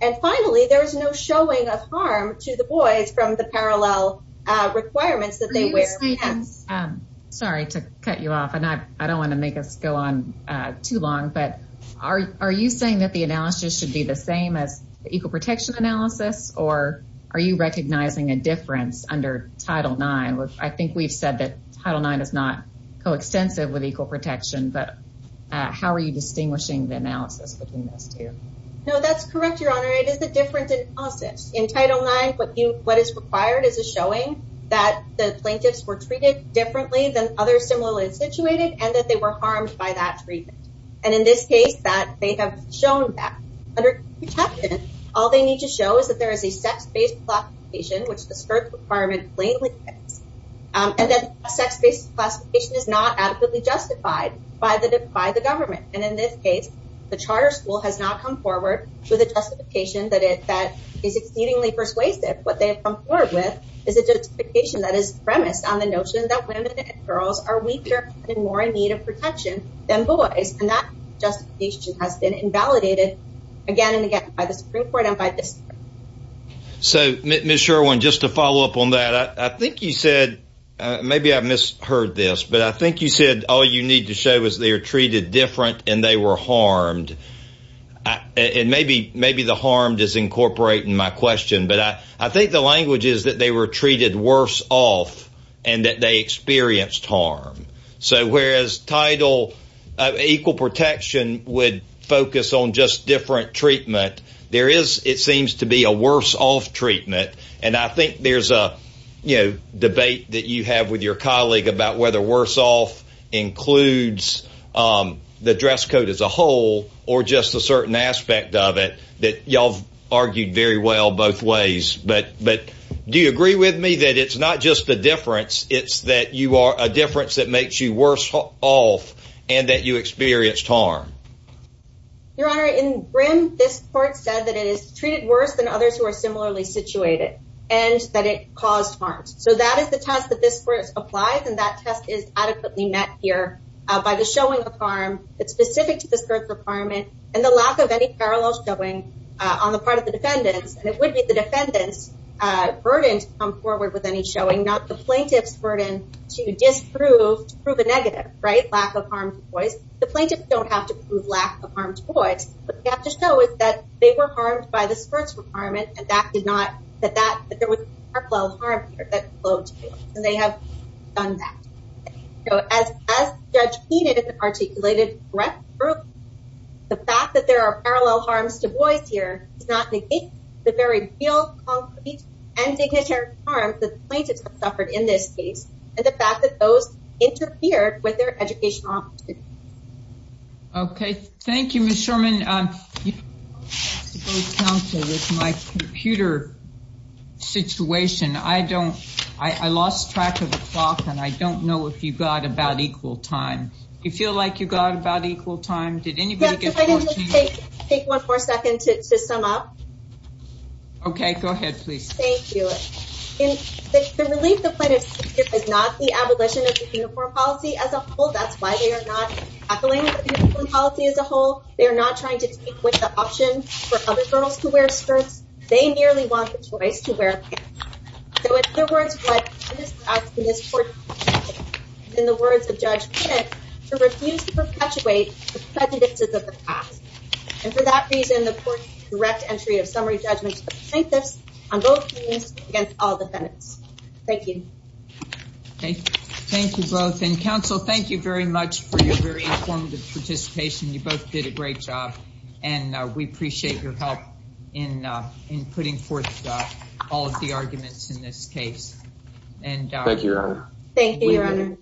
And finally, there is no showing of harm to the boys from the parallel requirements that they wear pants. Sorry to cut you off. And I don't want to make us go on too long. But are you saying that the analysis should be the same as equal protection analysis? Or are you recognizing a difference under Title IX? I think we've said that Title IX is not coextensive with equal protection. But how are you distinguishing the analysis between those two? No, that's correct, Your Honor. It is a different analysis. In Title IX, what is required is a showing that the plaintiffs were treated differently than others similarly situated and that they were harmed by that treatment. And in this case, they have shown that. Under equal protection, all they need to show is that there is a sex-based classification, which the skirt requirement plainly says. And that sex-based classification is not adequately justified by the government. And in this case, the charter school has not come forward with a justification that is exceedingly persuasive. What they have come forward with is a justification that is premised on the notion that women and girls are weaker and more in need of protection than boys. And that justification has been invalidated again and again by the Supreme Court and by this court. So, Ms. Sherwin, just to follow up on that, I think you said – maybe I misheard this – but I think you said all you need to show is they are treated different and they were harmed. And maybe the harmed is incorporating my question, but I think the language is that they were treated worse off and that they experienced harm. So whereas Title – equal protection would focus on just different treatment, there is, it seems to be, a worse-off treatment. And I think there's a, you know, debate that you have with your colleague about whether worse off includes the dress code as a whole or just a certain aspect of it that y'all have argued very well both ways. But do you agree with me that it's not just the difference, it's that you are – a difference that makes you worse off and that you experienced harm? Your Honor, in Grimm, this court said that it is treated worse than others who are similarly situated and that it caused harm. So that is the test that this court applies, and that test is adequately met here by the showing of harm that's specific to this court's requirement and the lack of any parallel showing on the part of the defendants. And it would be the defendant's burden to come forward with any showing, not the plaintiff's burden to disprove, to prove a negative, right, lack of harm to boys. Because the plaintiffs don't have to prove lack of harm to boys. What they have to show is that they were harmed by this court's requirement and that did not – that there was parallel harm here that flowed to them. And they have done that. So as Judge Keenan articulated correctly, the fact that there are parallel harms to boys here does not negate the very real concrete and dignitary harms that the plaintiffs have suffered in this case and the fact that those interfered with their educational opportunities. Okay. Thank you, Ms. Sherman. My computer situation, I don't – I lost track of the clock and I don't know if you got about equal time. Do you feel like you got about equal time? Yes, if I could just take one more second to sum up. Okay, go ahead, please. Thank you. The relief the plaintiffs receive is not the abolition of the uniform policy as a whole. That's why they are not tackling the uniform policy as a whole. They are not trying to take away the option for other girls to wear skirts. They merely want the choice to wear pants. So in other words, what this court – in the words of Judge Keenan, to refuse to perpetuate the prejudices of the past. And for that reason, the court's direct entry of summary judgment to the plaintiffs on both means against all defendants. Thank you. Thank you both. And, counsel, thank you very much for your very informative participation. You both did a great job and we appreciate your help in putting forth all of the arguments in this case. Thank you, Your Honor.